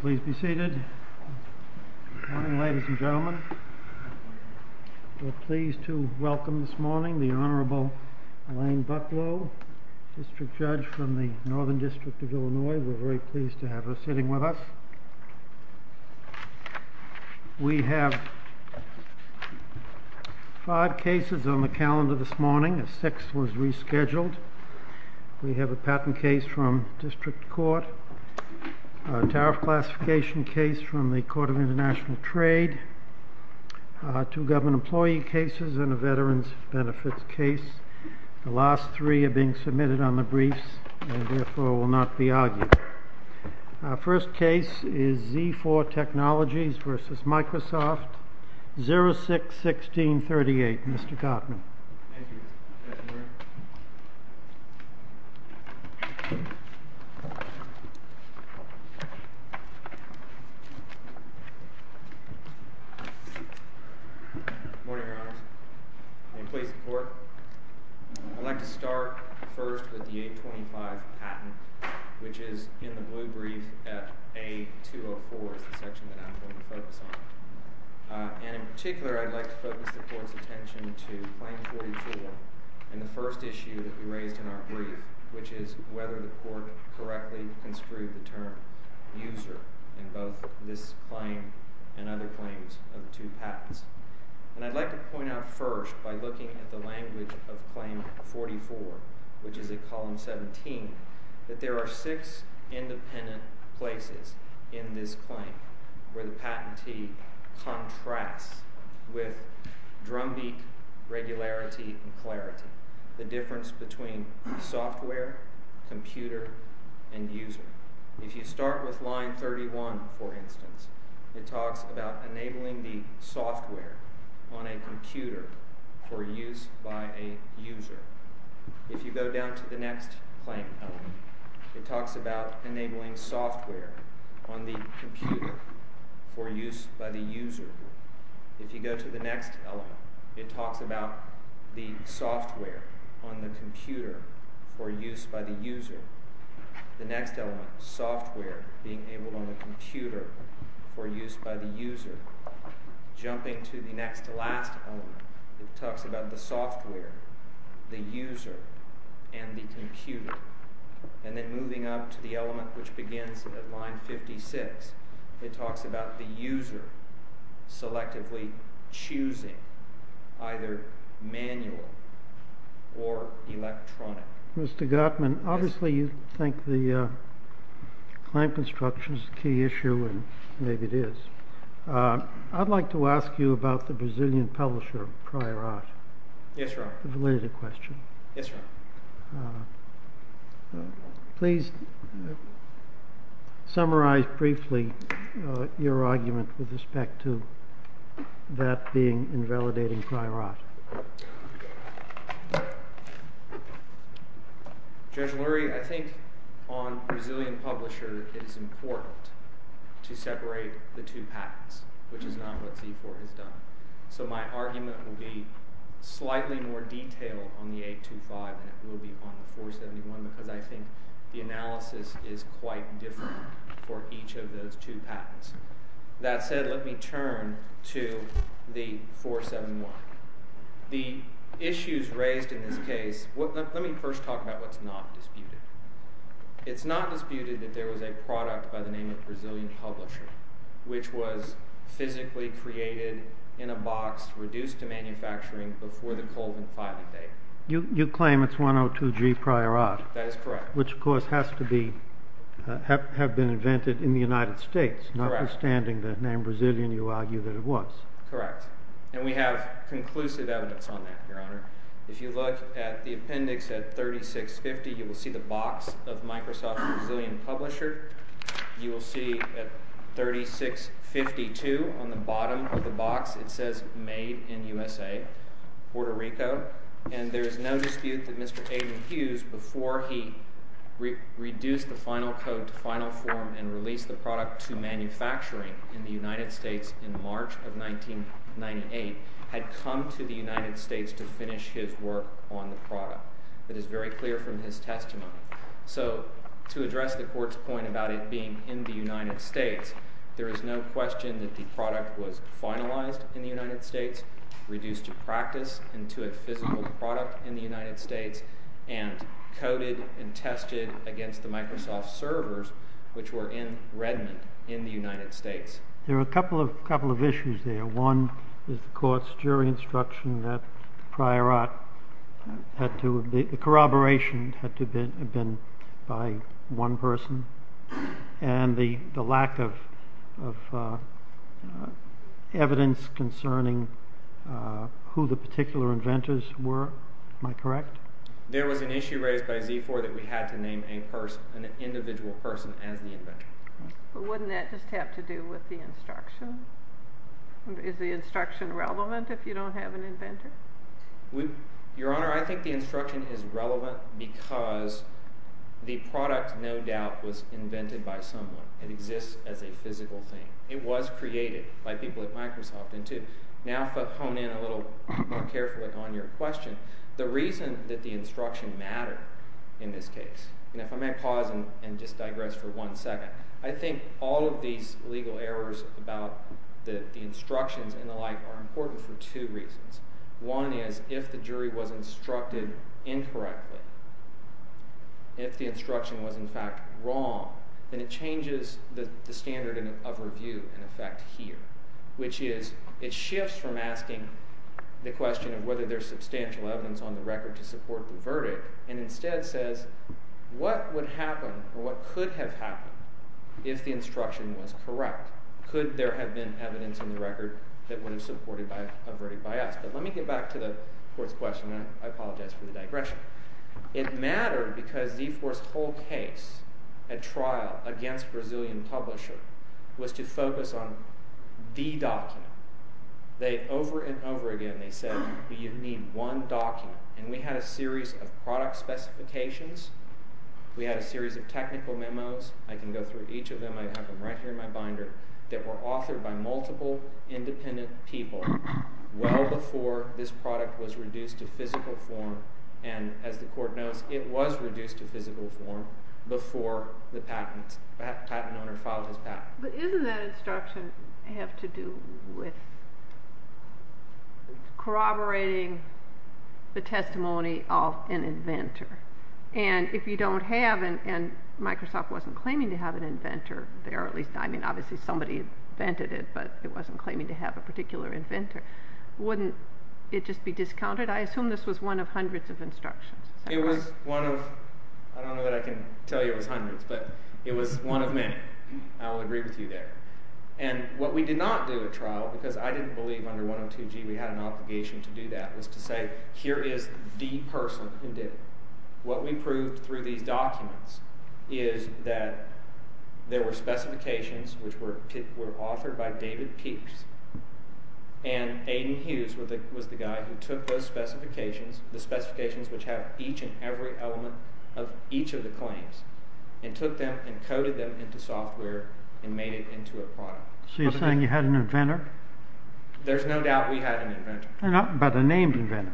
Please be seated. Good morning ladies and gentlemen. We're pleased to welcome this morning the Honorable Elaine Bucklow, District Judge from the Northern District of Illinois. We're very pleased to have her sitting with us. We have five cases on the calendar this morning. A sixth was rescheduled. We have a patent case from District Court, a tariff classification case from the Court of International Trade, two government employee cases and a veterans benefits case. The last three are being submitted on the briefs and therefore will not be argued. Our first case is Z4 Technologies v. Microsoft, 06-1638. Mr. Gottman. Thank you. Good morning. Good morning, Your Honors. May it please the Court. I'd like to start first with the 825 patent, which is in the blue brief at A204 is the section that I'm going to focus on. And in particular, I'd like to focus the Court's attention to Claim 44 and the first issue that we raised in our brief, which is whether the Court correctly construed the term user in both this claim and other claims of the two patents. And I'd like to point out first by looking at the language of Claim 44, which is at Column 17, that there are six independent places in this claim where the patentee contrasts with drumbeat, regularity and clarity, the difference between software, computer and user. If you start with line 31, for instance, it talks about enabling the software on a computer for use by a user. If you go down to the next claim element, it talks about enabling software on the computer for use by the user. If you go to the next element, it talks about the software on the computer for use by the user. The next element, software being enabled on the computer for use by the user. Jumping to the next to last element, it talks about the software, the user, and the computer. And then moving up to the element which begins at line 56, it talks about the user selectively choosing either manual or electronic. Mr. Gottman, obviously you think the claim construction is a key issue, and maybe it is. I'd like to ask you about the Brazilian publisher, Priorat. Yes, Your Honor. Related question. Yes, Your Honor. Please summarize briefly your argument with respect to that being invalidating Priorat. Judge Lurie, I think on Brazilian publisher, it is important to separate the two patents, which is not what C4 has done. So my argument will be slightly more detailed on the 825 than it will be on the 471 because I think the analysis is quite different for each of those two patents. That said, let me turn to the 471. The issues raised in this case, let me first talk about what's not disputed. It's not disputed that there was a product by the name of Brazilian publisher which was physically created in a box, reduced to manufacturing before the Colvin filing date. You claim it's 102G Priorat. That is correct. Which, of course, have been invented in the United States, notwithstanding the name Brazilian, you argue, that it was. Correct. And we have conclusive evidence on that, Your Honor. If you look at the appendix at 3650, you will see the box of Microsoft Brazilian publisher. You will see at 3652 on the bottom of the box, it says made in USA, Puerto Rico. And there is no dispute that Mr. Aiden Hughes, before he reduced the final code to final form and released the product to manufacturing in the United States in March of 1998, had come to the United States to finish his work on the product. That is very clear from his testimony. So to address the court's point about it being in the United States, there is no question that the product was finalized in the United States, reduced to practice and to a physical product in the United States, and coded and tested against the Microsoft servers which were in Redmond in the United States. There are a couple of issues there. One is the court's jury instruction that Priorat, the corroboration had to have been by one person, and the lack of evidence concerning who the particular inventors were. Am I correct? There was an issue raised by Z4 that we had to name an individual person as the inventor. But wouldn't that just have to do with the instruction? Is the instruction relevant if you don't have an inventor? Your Honor, I think the instruction is relevant because the product, no doubt, was invented by someone. It exists as a physical thing. It was created by people at Microsoft. And to now hone in a little more carefully on your question, the reason that the instruction mattered in this case, and if I may pause and just digress for one second, I think all of these legal errors about the instructions and the like are important for two reasons. One is if the jury was instructed incorrectly, if the instruction was in fact wrong, then it changes the standard of review in effect here, which is it shifts from asking the question of whether there's substantial evidence on the record to support the verdict and instead says what would happen or what could have happened if the instruction was correct? Could there have been evidence on the record that would have supported a verdict by us? But let me get back to the court's question. I apologize for the digression. It mattered because Z4's whole case at trial against Brazilian publisher was to focus on the document. Over and over again they said you need one document, and we had a series of product specifications. We had a series of technical memos. I can go through each of them. I have them right here in my binder. They were authored by multiple independent people well before this product was reduced to physical form, and as the court knows, it was reduced to physical form before the patent owner filed his patent. But isn't that instruction have to do with corroborating the testimony of an inventor? And if you don't have, and Microsoft wasn't claiming to have an inventor there, at least I mean obviously somebody invented it, but it wasn't claiming to have a particular inventor, wouldn't it just be discounted? I assume this was one of hundreds of instructions. It was one of, I don't know that I can tell you it was hundreds, but it was one of many. I will agree with you there. And what we did not do at trial, because I didn't believe under 102G we had an obligation to do that, was to say here is the person who did it. What we proved through these documents is that there were specifications which were authored by David Peeks, and Aidan Hughes was the guy who took those specifications, the specifications which have each and every element of each of the claims, and took them and coded them into software and made it into a product. So you're saying you had an inventor? There's no doubt we had an inventor. But a named inventor.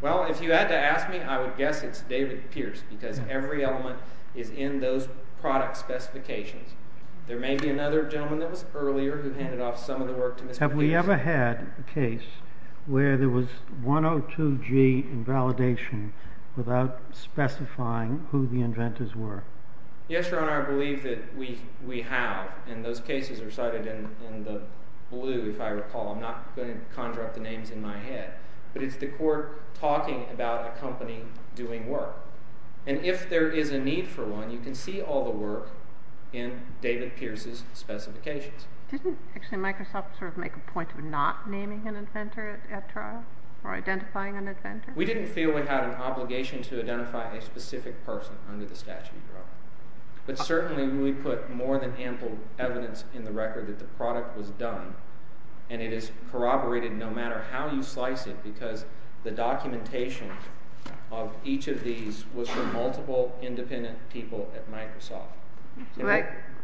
Well, if you had to ask me, I would guess it's David Pierce, because every element is in those product specifications. There may be another gentleman that was earlier who handed off some of the work to Mr. Pierce. Have we ever had a case where there was 102G in validation without specifying who the inventors were? Yes, Your Honor, I believe that we have. And those cases are cited in the blue, if I recall. I'm not going to conjure up the names in my head. But it's the court talking about a company doing work. And if there is a need for one, you can see all the work in David Pierce's specifications. Didn't actually Microsoft sort of make a point of not naming an inventor at trial, or identifying an inventor? We didn't feel we had an obligation to identify a specific person under the statute, Your Honor. But certainly we put more than ample evidence in the record that the product was done. And it is corroborated no matter how you slice it, because the documentation of each of these was from multiple independent people at Microsoft.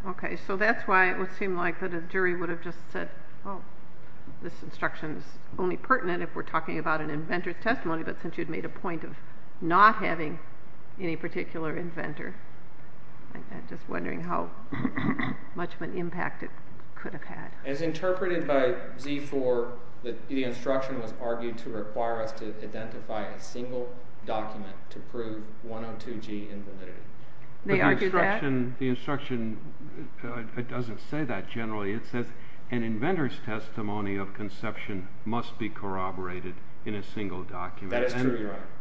Okay, so that's why it would seem like a jury would have just said, oh, this instruction is only pertinent if we're talking about an inventor's testimony, but since you'd made a point of not having any particular inventor, I'm just wondering how much of an impact it could have had. As interpreted by Z4, the instruction was argued to require us to identify a single document to prove 102G invalidity. The instruction doesn't say that generally. It says an inventor's testimony of conception must be corroborated in a single document.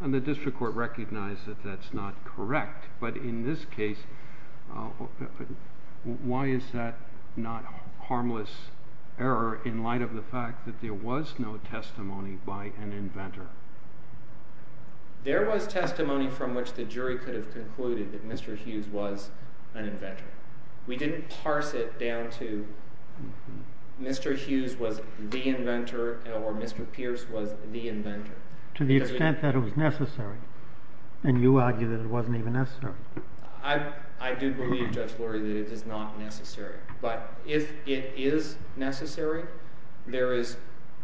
And the district court recognized that that's not correct, but in this case, why is that not harmless error in light of the fact that there was no testimony by an inventor? There was testimony from which the jury could have concluded that Mr. Hughes was an inventor. We didn't parse it down to Mr. Hughes was the inventor, or Mr. Pierce was the inventor. To the extent that it was necessary, and you argue that it wasn't even necessary. I do believe, Judge Lurie, that it is not necessary, but if it is necessary, there is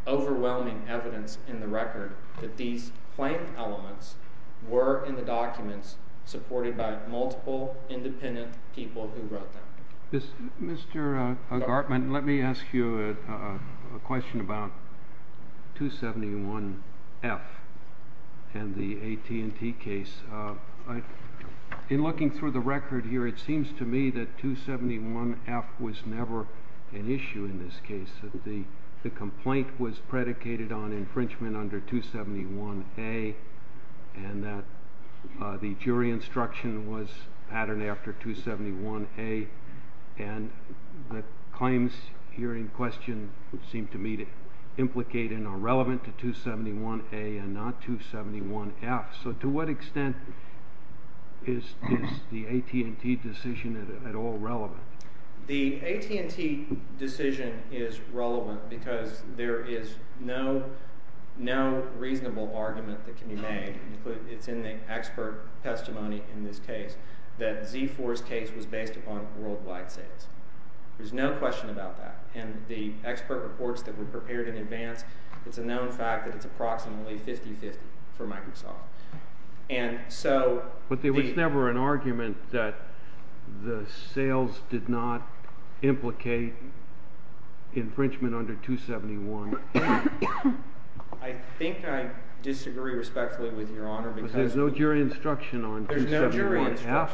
overwhelming evidence in the record that these plain elements were in the documents supported by multiple independent people who wrote them. Mr. Gartman, let me ask you a question about 271F and the AT&T case. In looking through the record here, it seems to me that 271F was never an issue in this case. The complaint was predicated on infringement under 271A, and that the jury instruction was patterned after 271A, and the claims here in question seem to me to implicate and are relevant to 271A and not 271F. So to what extent is the AT&T decision at all relevant? The AT&T decision is relevant because there is no reasonable argument that can be made. It's in the expert testimony in this case that Z4's case was based upon worldwide sales. There's no question about that. And the expert reports that were prepared in advance, it's a known fact that it's approximately 50-50 for Microsoft. But there was never an argument that the sales did not implicate infringement under 271. I think I disagree respectfully with Your Honor because— But there's no jury instruction on 271F.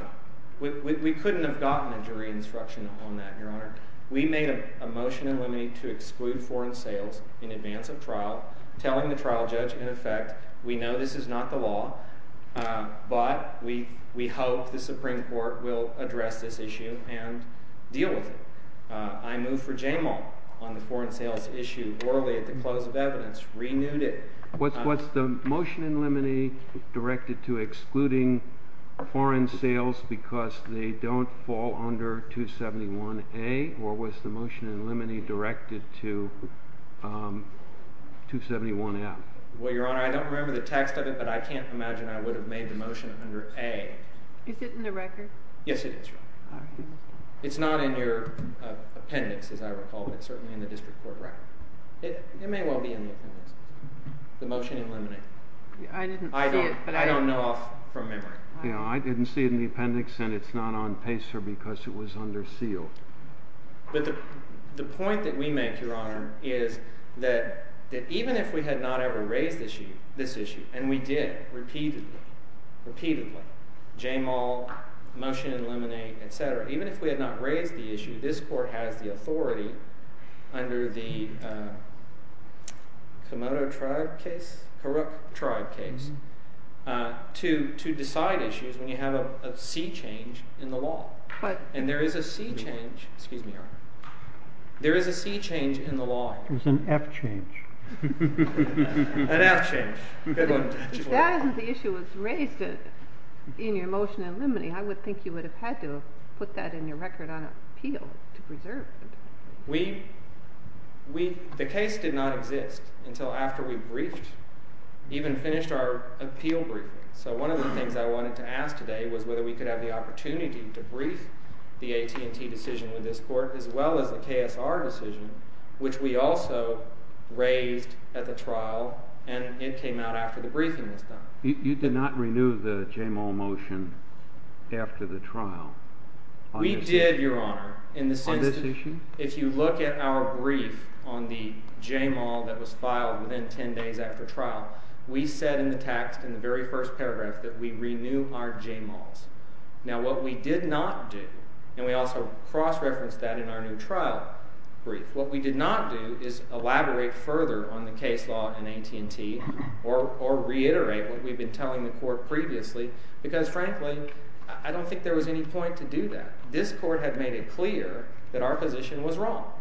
We couldn't have gotten a jury instruction on that, Your Honor. We made a motion in limine to exclude foreign sales in advance of trial, telling the trial judge, in effect, we know this is not the law, but we hope the Supreme Court will address this issue and deal with it. I move for Jamal on the foreign sales issue orally at the close of evidence. Renewed it. What's the motion in limine directed to excluding foreign sales because they don't fall under 271A? Or was the motion in limine directed to 271F? Well, Your Honor, I don't remember the text of it, but I can't imagine I would have made the motion under A. Is it in the record? Yes, it is, Your Honor. It's not in your appendix, as I recall, but it's certainly in the district court record. It may well be in the appendix, the motion in limine. I didn't see it. I don't know off from memory. I didn't see it in the appendix, and it's not on PACER because it was under seal. But the point that we make, Your Honor, is that even if we had not ever raised this issue, and we did repeatedly, repeatedly, Jamal, motion in limine, etc., even if we had not raised the issue, this court has the authority under the Komodo tribe case, Kurok tribe case, to decide issues when you have a C change in the law. And there is a C change. Excuse me, Your Honor. There is a C change in the law. There's an F change. An F change. Good one. If that isn't the issue that was raised in your motion in limine, I would think you would have had to put that in your record on appeal to preserve it. The case did not exist until after we briefed, even finished our appeal briefing. So one of the things I wanted to ask today was whether we could have the opportunity to brief the AT&T decision with this court as well as the KSR decision, which we also raised at the trial, and it came out after the briefing was done. You did not renew the Jamal motion after the trial. We did, Your Honor. On this issue? If you look at our brief on the Jamal that was filed within 10 days after trial, we said in the text in the very first paragraph that we renew our Jamals. Now, what we did not do, and we also cross-referenced that in our new trial brief, what we did not do is elaborate further on the case law in AT&T or reiterate what we've been telling the court previously because, frankly, I don't think there was any point to do that. This court had made it clear that our position was wrong.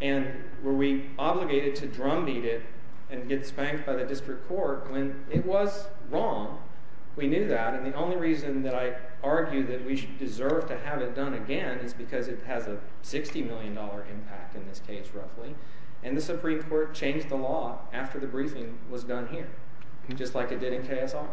And were we obligated to drumbeat it and get spanked by the district court when it was wrong, we knew that. And the only reason that I argue that we deserve to have it done again is because it has a $60 million impact in this case, roughly. And the Supreme Court changed the law after the briefing was done here, just like it did in KSR.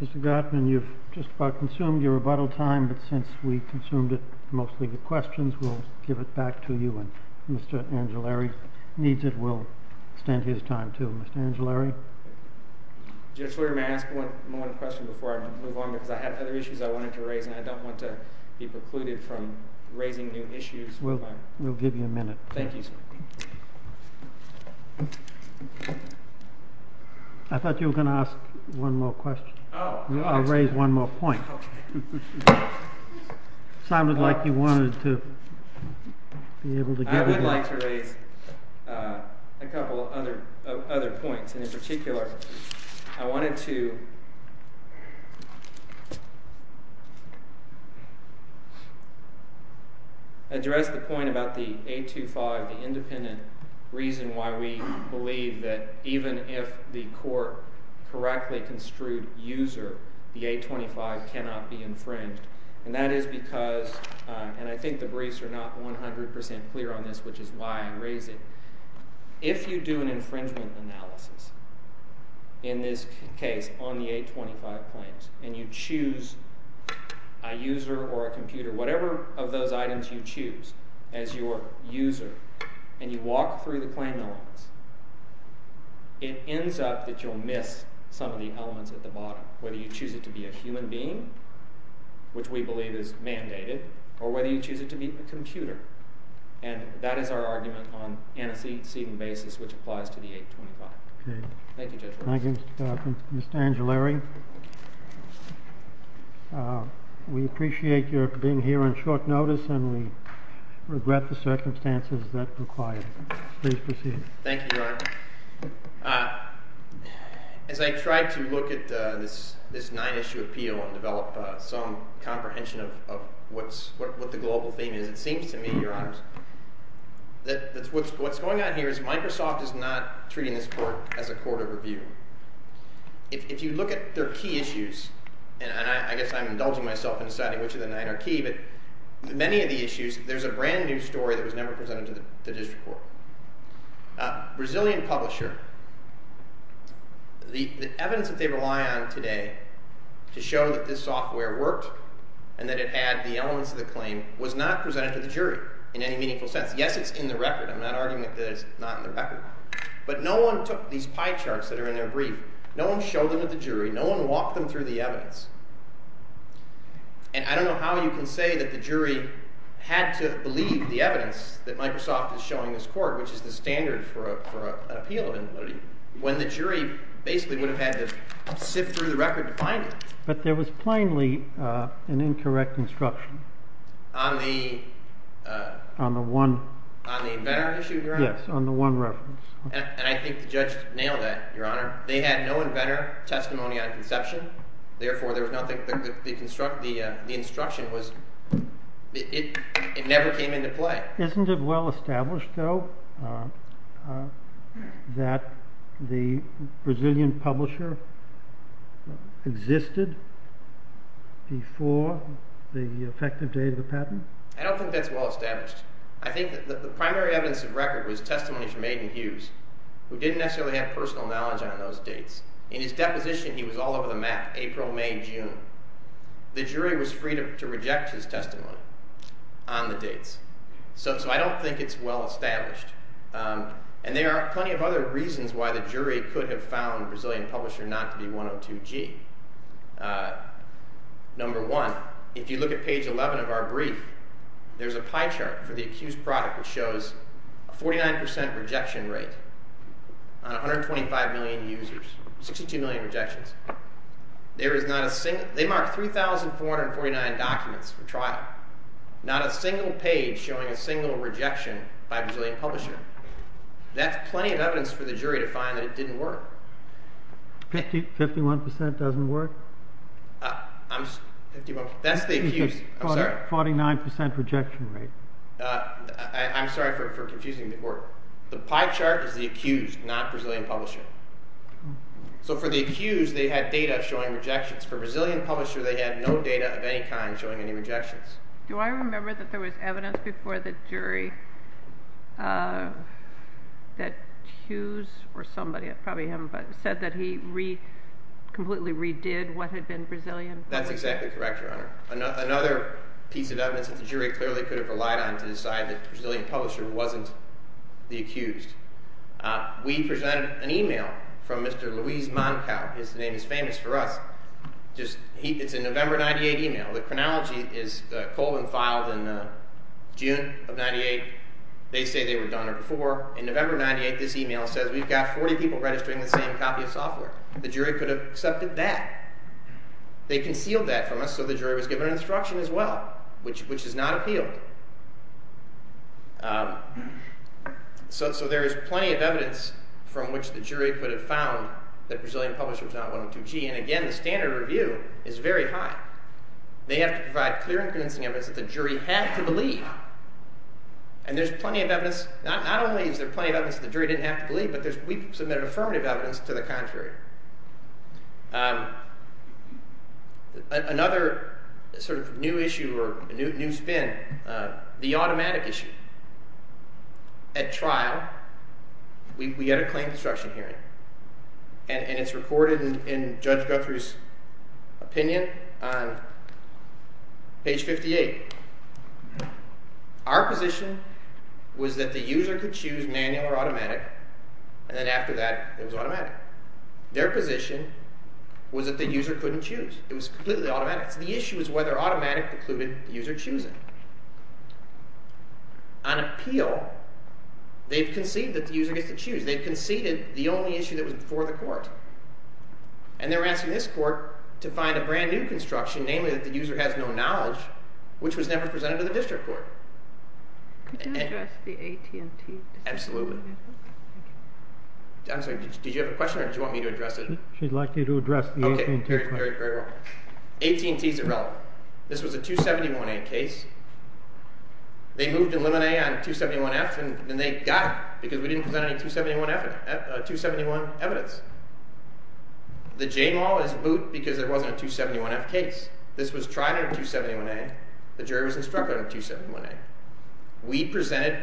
Mr. Gottman, you've just about consumed your rebuttal time. But since we consumed it mostly with questions, we'll give it back to you. And Mr. Angelari needs it. We'll extend his time, too. Mr. Angelari? Judge Leary, may I ask one more question before I move on? Because I have other issues I wanted to raise, and I don't want to be precluded from raising new issues. We'll give you a minute. Thank you, sir. I thought you were going to ask one more question. I'll raise one more point. It sounded like you wanted to be able to give it. I would like to raise a couple of other points. And in particular, I wanted to address the point about the 825, the independent reason why we believe that even if the court correctly construed user, the 825 cannot be infringed. And that is because—and I think the briefs are not 100% clear on this, which is why I raise it. If you do an infringement analysis in this case on the 825 claims, and you choose a user or a computer, whatever of those items you choose as your user, and you walk through the claim elements, it ends up that you'll miss some of the elements at the bottom, whether you choose it to be a human being, which we believe is mandated, or whether you choose it to be a computer. And that is our argument on antecedent basis, which applies to the 825. Okay. Thank you, Judge Roberts. Thank you, Mr. Carpenter. Mr. Angelari, we appreciate your being here on short notice, and we regret the circumstances that require it. Please proceed. Thank you, Your Honor. As I try to look at this nine-issue appeal and develop some comprehension of what the global theme is, it seems to me, Your Honors, that what's going on here is Microsoft is not treating this court as a court of review. If you look at their key issues, and I guess I'm indulging myself in deciding which of the nine are key, but many of the issues, there's a brand-new story that was never presented to the district court. Brazilian publisher, the evidence that they rely on today to show that this software worked and that it had the elements of the claim was not presented to the jury in any meaningful sense. Yes, it's in the record. I'm not arguing that it's not in the record. But no one took these pie charts that are in their brief. No one showed them to the jury. No one walked them through the evidence. And I don't know how you can say that the jury had to believe the evidence that Microsoft is showing this court, which is the standard for an appeal of invalidity, when the jury basically would have had to sift through the record to find it. But there was plainly an incorrect instruction. On the one? On the inventor issue, Your Honor? Yes, on the one reference. And I think the judge nailed that, Your Honor. They had no inventor testimony on conception. Therefore, there was nothing – the instruction was – it never came into play. Isn't it well established, though, that the Brazilian publisher existed before the effective date of the patent? I don't think that's well established. I think that the primary evidence of record was testimony from Aidan Hughes, who didn't necessarily have personal knowledge on those dates. In his deposition, he was all over the map, April, May, June. The jury was free to reject his testimony on the dates. So I don't think it's well established. And there are plenty of other reasons why the jury could have found Brazilian publisher not to be 102G. Number one, if you look at page 11 of our brief, there's a pie chart for the accused product which shows a 49% rejection rate on 125 million users, 62 million rejections. They marked 3,449 documents for trial, not a single page showing a single rejection by a Brazilian publisher. That's plenty of evidence for the jury to find that it didn't work. 51% doesn't work? That's the accused. I'm sorry. 49% rejection rate. I'm sorry for confusing the board. The pie chart is the accused, not Brazilian publisher. So for the accused, they had data showing rejections. For Brazilian publisher, they had no data of any kind showing any rejections. Do I remember that there was evidence before the jury that Hughes or somebody, probably him, said that he completely redid what had been Brazilian? That's exactly correct, Your Honor. Another piece of evidence that the jury clearly could have relied on to decide that Brazilian publisher wasn't the accused. We presented an email from Mr. Luiz Mancao. His name is famous for us. It's a November 98 email. The chronology is Colvin filed in June of 98. They say they were done it before. In November 98, this email says we've got 40 people registering the same copy of software. The jury could have accepted that. They concealed that from us, so the jury was given instruction as well, which is not appealed. So there is plenty of evidence from which the jury could have found that Brazilian publisher was not 102G. And again, the standard review is very high. They have to provide clear and convincing evidence that the jury had to believe. And there's plenty of evidence. Not only is there plenty of evidence that the jury didn't have to believe, but we submitted affirmative evidence to the contrary. Another sort of new issue or new spin, the automatic issue. At trial, we had a claim construction hearing, and it's recorded in Judge Guthrie's opinion on page 58. Our position was that the user could choose manual or automatic, and then after that it was automatic. Their position was that the user couldn't choose. It was completely automatic. The issue was whether automatic precluded the user choosing. On appeal, they've conceded that the user gets to choose. They've conceded the only issue that was before the court. And they're asking this court to find a brand-new construction, namely that the user has no knowledge, which was never presented to the district court. Could you address the AT&T district court? Absolutely. I'm sorry, did you have a question or did you want me to address it? She'd like you to address the AT&T court. AT&T is irrelevant. This was a 271A case. They moved to limit A on 271F, and they got it because we didn't present any 271F evidence. The J-Mall is moot because there wasn't a 271F case. This was tried under 271A. The jury was instructed under 271A. We presented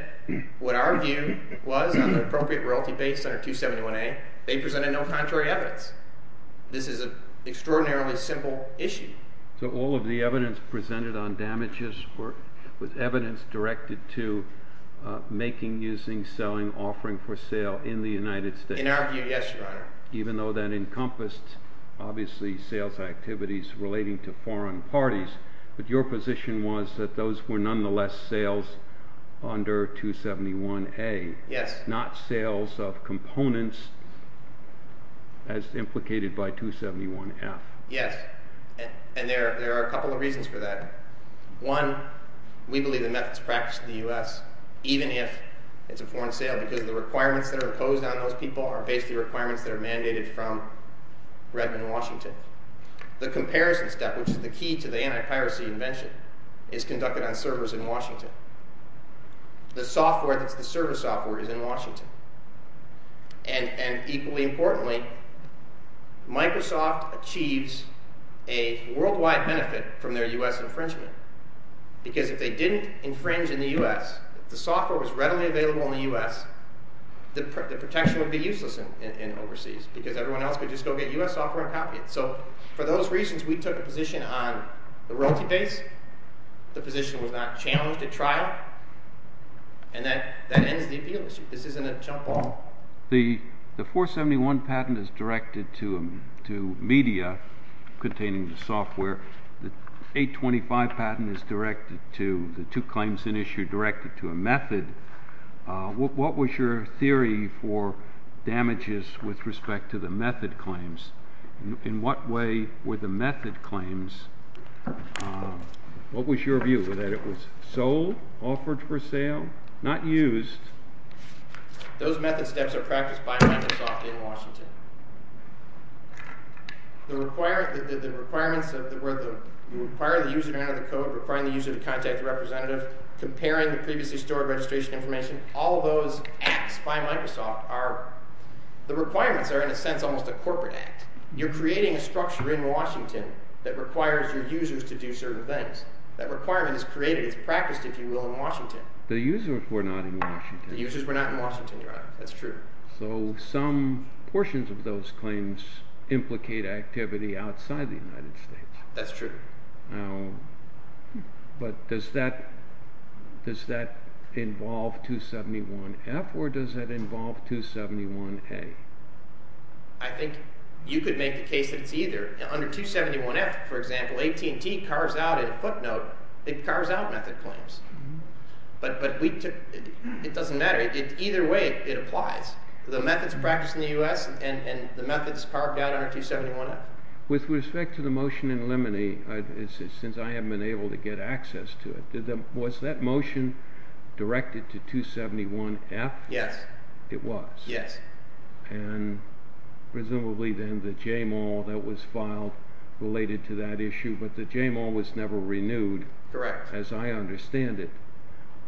what our view was on the appropriate royalty base under 271A. They presented no contrary evidence. This is an extraordinarily simple issue. So all of the evidence presented on damages was evidence directed to making, using, selling, offering for sale in the United States? In our view, yes, Your Honor. Even though that encompassed, obviously, sales activities relating to foreign parties, but your position was that those were nonetheless sales under 271A? Yes. Not sales of components as implicated by 271F? Yes, and there are a couple of reasons for that. One, we believe the methods practiced in the U.S., even if it's a foreign sale because the requirements that are imposed on those people are basically requirements that are mandated from Redmond, Washington. The comparison step, which is the key to the anti-piracy invention, is conducted on servers in Washington. The software that's the server software is in Washington. And equally importantly, Microsoft achieves a worldwide benefit from their U.S. infringement because if they didn't infringe in the U.S., if the software was readily available in the U.S., the protection would be useless overseas because everyone else could just go get U.S. software and copy it. So for those reasons, we took a position on the royalty base. The position was not challenged at trial, and that ends the appeal issue. This isn't a jump ball. The 471 patent is directed to media containing the software. The 825 patent is directed to the two claims in issue directed to a method. What was your theory for damages with respect to the method claims? In what way were the method claims—what was your view, that it was sold, offered for sale, not used? Those method steps are practiced by Microsoft in Washington. The requirements of the—you require the user to enter the code, requiring the user to contact the representative, comparing the previously stored registration information. All those acts by Microsoft are—the requirements are, in a sense, almost a corporate act. You're creating a structure in Washington that requires your users to do certain things. That requirement is created. It's practiced, if you will, in Washington. The users were not in Washington. The users were not in Washington, Your Honor. That's true. So some portions of those claims implicate activity outside the United States. That's true. But does that involve 271F or does that involve 271A? I think you could make the case that it's either. Under 271F, for example, AT&T cars out in a footnote, it cars out method claims. But we took—it doesn't matter. Either way, it applies. The method's practiced in the U.S., and the method's parked out under 271F. With respect to the motion in limine, since I haven't been able to get access to it, was that motion directed to 271F? Yes. It was? Yes. And presumably then the JML that was filed related to that issue, but the JML was never renewed. Correct. As I understand it.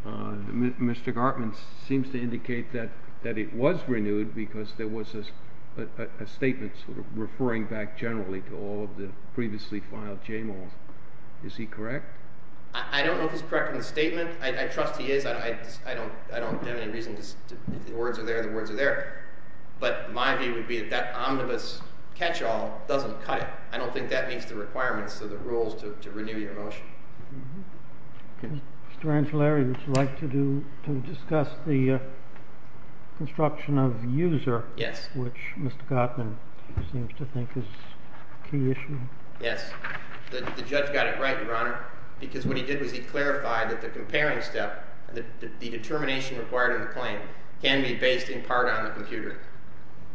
Mr. Gartman seems to indicate that it was renewed because there was a statement sort of referring back generally to all of the previously filed JMLs. Is he correct? I don't know if he's correct in the statement. I trust he is. I don't have any reason to—if the words are there, the words are there. But my view would be that that omnibus catchall doesn't cut it. I don't think that meets the requirements of the rules to renew your motion. Mr. Angellari, would you like to discuss the construction of user? Yes. Which Mr. Gartman seems to think is a key issue. Yes. The judge got it right, Your Honor, because what he did was he clarified that the comparing step, the determination required in the claim, can be based in part on the computer.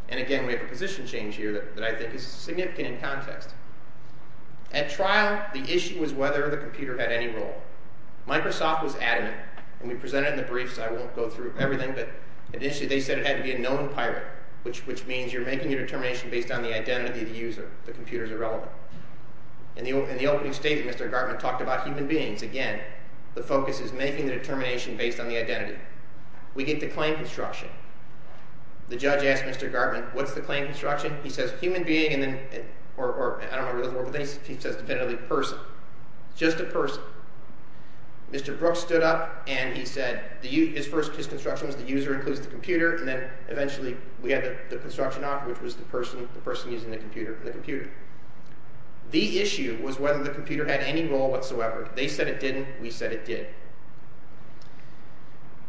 And again, we have a position change here that I think is significant in context. At trial, the issue was whether the computer had any role. Microsoft was adamant, and we presented in the briefs. I won't go through everything, but initially they said it had to be a known pirate, which means you're making a determination based on the identity of the user. The computer is irrelevant. In the opening statement, Mr. Gartman talked about human beings. Again, the focus is making the determination based on the identity. We get the claim construction. The judge asked Mr. Gartman, what's the claim construction? He says human being, or I don't remember the word, but he says definitively person, just a person. Mr. Brooks stood up, and he said his first construction was the user includes the computer, and then eventually we had the construction offer, which was the person using the computer. The issue was whether the computer had any role whatsoever. They said it didn't. We said it did.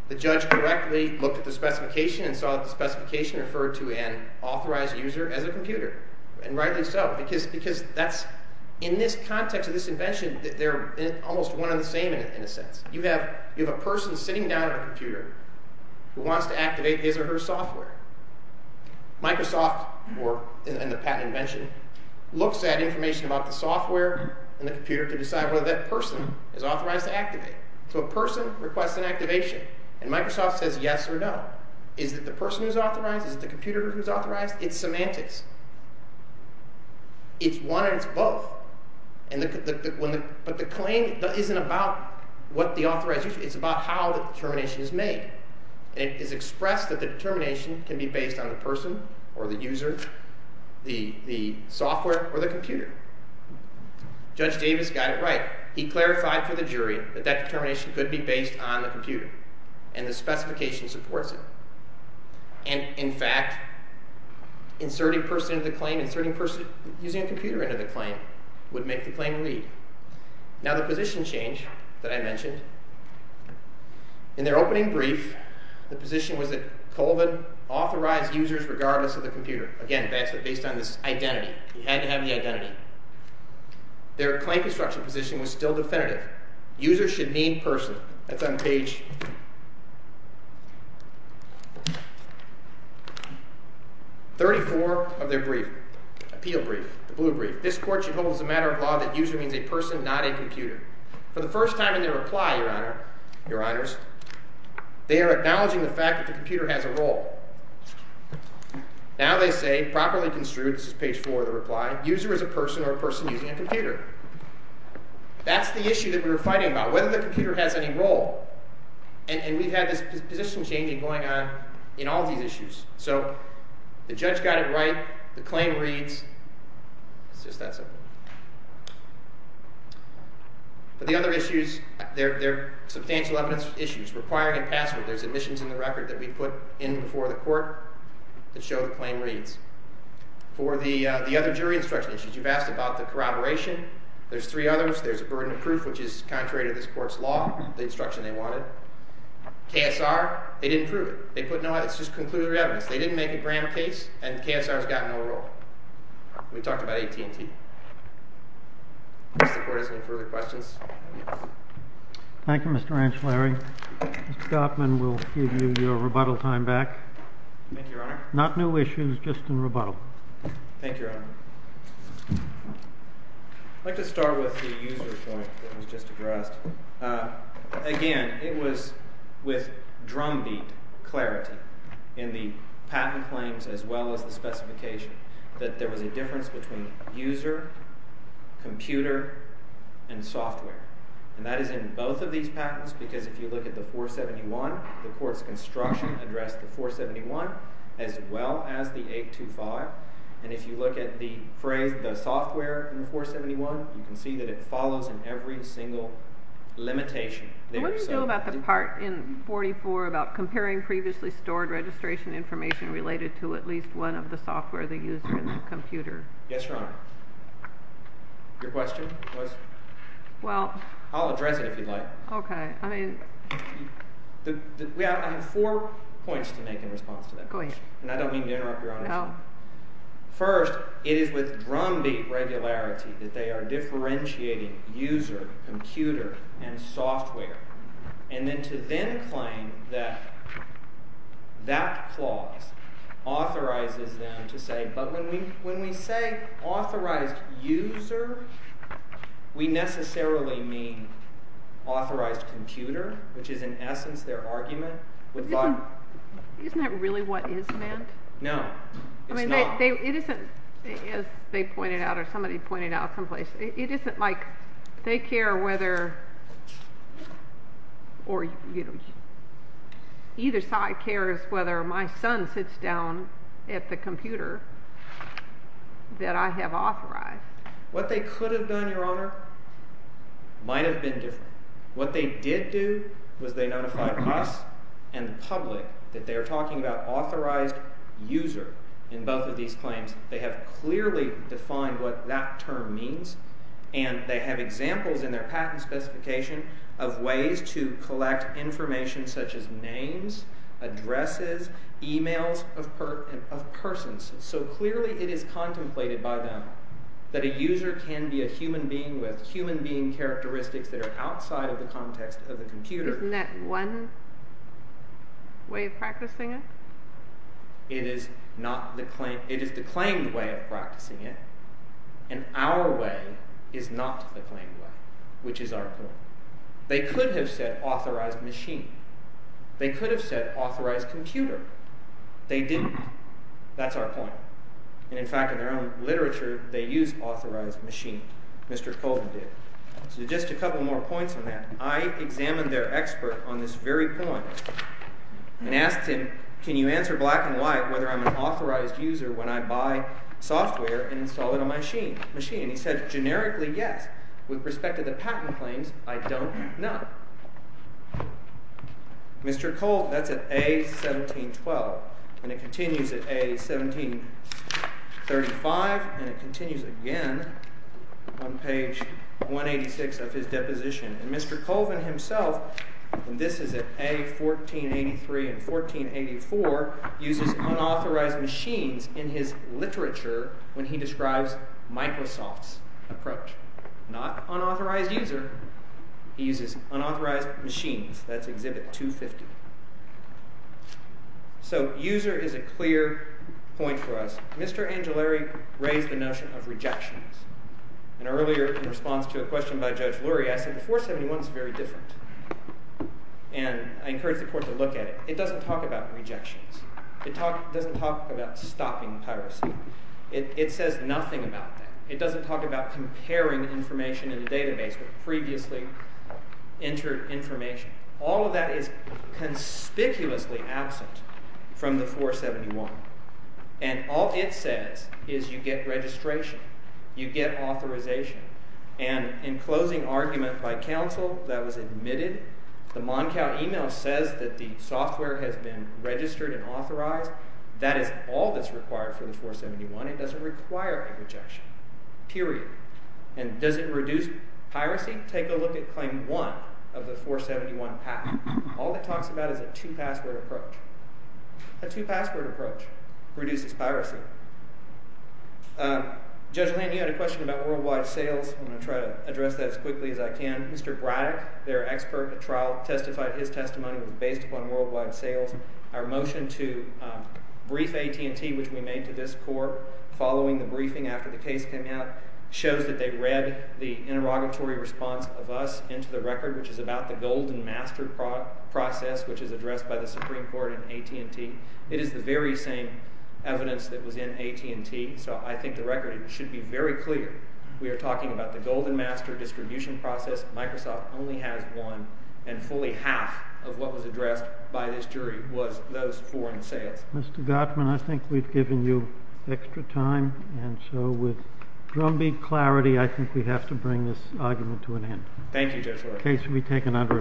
The judge correctly looked at the specification and saw that the specification referred to an authorized user as a computer, and rightly so because that's – in this context of this invention, they're almost one and the same in a sense. You have a person sitting down at a computer who wants to activate his or her software. Microsoft and the patent invention looks at information about the software and the computer to decide whether that person is authorized to activate. So a person requests an activation, and Microsoft says yes or no. Is it the person who's authorized? Is it the computer who's authorized? It's semantics. It's one and it's both, but the claim isn't about what the authorized user – it's about how the determination is made. It is expressed that the determination can be based on the person or the user, the software, or the computer. Judge Davis got it right. He clarified for the jury that that determination could be based on the computer, and the specification supports it. And, in fact, inserting a person into the claim – inserting a person using a computer into the claim would make the claim lead. Now, the position change that I mentioned – in their opening brief, the position was that Colvin authorized users regardless of the computer. Again, that's based on this identity. He had to have the identity. Their claim construction position was still definitive. Users should name person. That's on page 34 of their brief, appeal brief, the blue brief. This court should hold as a matter of law that user means a person, not a computer. For the first time in their reply, Your Honor, Your Honors, they are acknowledging the fact that the computer has a role. Now they say, properly construed – this is page 4 of the reply – user is a person or a person using a computer. That's the issue that we were fighting about, whether the computer has any role. And we've had this position changing going on in all these issues. So the judge got it right. The claim reads. It's just that simple. For the other issues, they're substantial evidence issues requiring a password. There's admissions in the record that we put in before the court that show the claim reads. For the other jury instruction issues, you've asked about the corroboration. There's three others. There's a burden of proof, which is contrary to this court's law, the instruction they wanted. KSR, they didn't prove it. It's just conclusive evidence. They didn't make a grand case, and KSR's got no role. We talked about AT&T. If the court has any further questions. Thank you, Mr. Anshelary. Mr. Gottman will give you your rebuttal time back. Thank you, Your Honor. Not new issues, just in rebuttal. Thank you, Your Honor. I'd like to start with the user point that was just addressed. Again, it was with drumbeat clarity in the patent claims as well as the specification that there was a difference between user, computer, and software. And that is in both of these patents because if you look at the 471, the court's construction addressed the 471 as well as the 825. And if you look at the phrase, the software in the 471, you can see that it follows in every single limitation. What do you do about the part in 44 about comparing previously stored registration information related to at least one of the software they used in the computer? Yes, Your Honor. Your question was? Well. I'll address it if you'd like. Okay. I mean. I have four points to make in response to that question. Go ahead. And I don't mean to interrupt, Your Honor. No. First, it is with drumbeat regularity that they are differentiating user, computer, and software. And then to then claim that that clause authorizes them to say, but when we say authorized user, we necessarily mean authorized computer, which is in essence their argument. Isn't that really what is meant? No. It's not. It isn't, as they pointed out or somebody pointed out someplace, it isn't like they care whether or, you know, either side cares whether my son sits down at the computer that I have authorized. What they could have done, Your Honor, might have been different. What they did do was they notified us and the public that they are talking about authorized user in both of these claims. They have clearly defined what that term means, and they have examples in their patent specification of ways to collect information such as names, addresses, e-mails of persons. So clearly it is contemplated by them that a user can be a human being who has human being characteristics that are outside of the context of the computer. Isn't that one way of practicing it? It is not the claim. It is the claimed way of practicing it, and our way is not the claimed way, which is our point. They could have said authorized machine. They could have said authorized computer. They didn't. That's our point. And in fact, in their own literature, they use authorized machine. Mr. Colvin did. So just a couple more points on that. I examined their expert on this very point and asked him, can you answer black and white whether I'm an authorized user when I buy software and install it on my machine? And he said, generically, yes. With respect to the patent claims, I don't know. Mr. Colvin, that's at A1712, and it continues at A1735, and it continues again on page 186 of his deposition. And Mr. Colvin himself, and this is at A1483 and A1484, uses unauthorized machines in his literature when he describes Microsoft's approach. Not unauthorized user. He uses unauthorized machines. That's Exhibit 250. So user is a clear point for us. Mr. Angelari raised the notion of rejections. And earlier, in response to a question by Judge Lurie, I said the 471 is very different. And I encourage the court to look at it. It doesn't talk about rejections. It doesn't talk about stopping piracy. It says nothing about that. It doesn't talk about comparing information in the database with previously entered information. All of that is conspicuously absent from the 471. And all it says is you get registration. You get authorization. And in closing argument by counsel that was admitted, the Moncow email says that the software has been registered and authorized. That is all that's required for the 471. It doesn't require a rejection, period. And does it reduce piracy? Take a look at Claim 1 of the 471 patent. All it talks about is a two-password approach. A two-password approach reduces piracy. Judge Land, you had a question about worldwide sales. I'm going to try to address that as quickly as I can. Mr. Braddock, their expert at trial, testified his testimony was based upon worldwide sales. Our motion to brief AT&T, which we made to this court following the briefing after the case came out, shows that they read the interrogatory response of us into the record, which is about the golden master process, which is addressed by the Supreme Court in AT&T. It is the very same evidence that was in AT&T, so I think the record should be very clear. We are talking about the golden master distribution process. Microsoft only has one, and fully half of what was addressed by this jury was those foreign sales. Mr. Gottman, I think we've given you extra time, and so with drumbeat clarity I think we have to bring this argument to an end. Thank you, Judge Land. The case will be taken under review.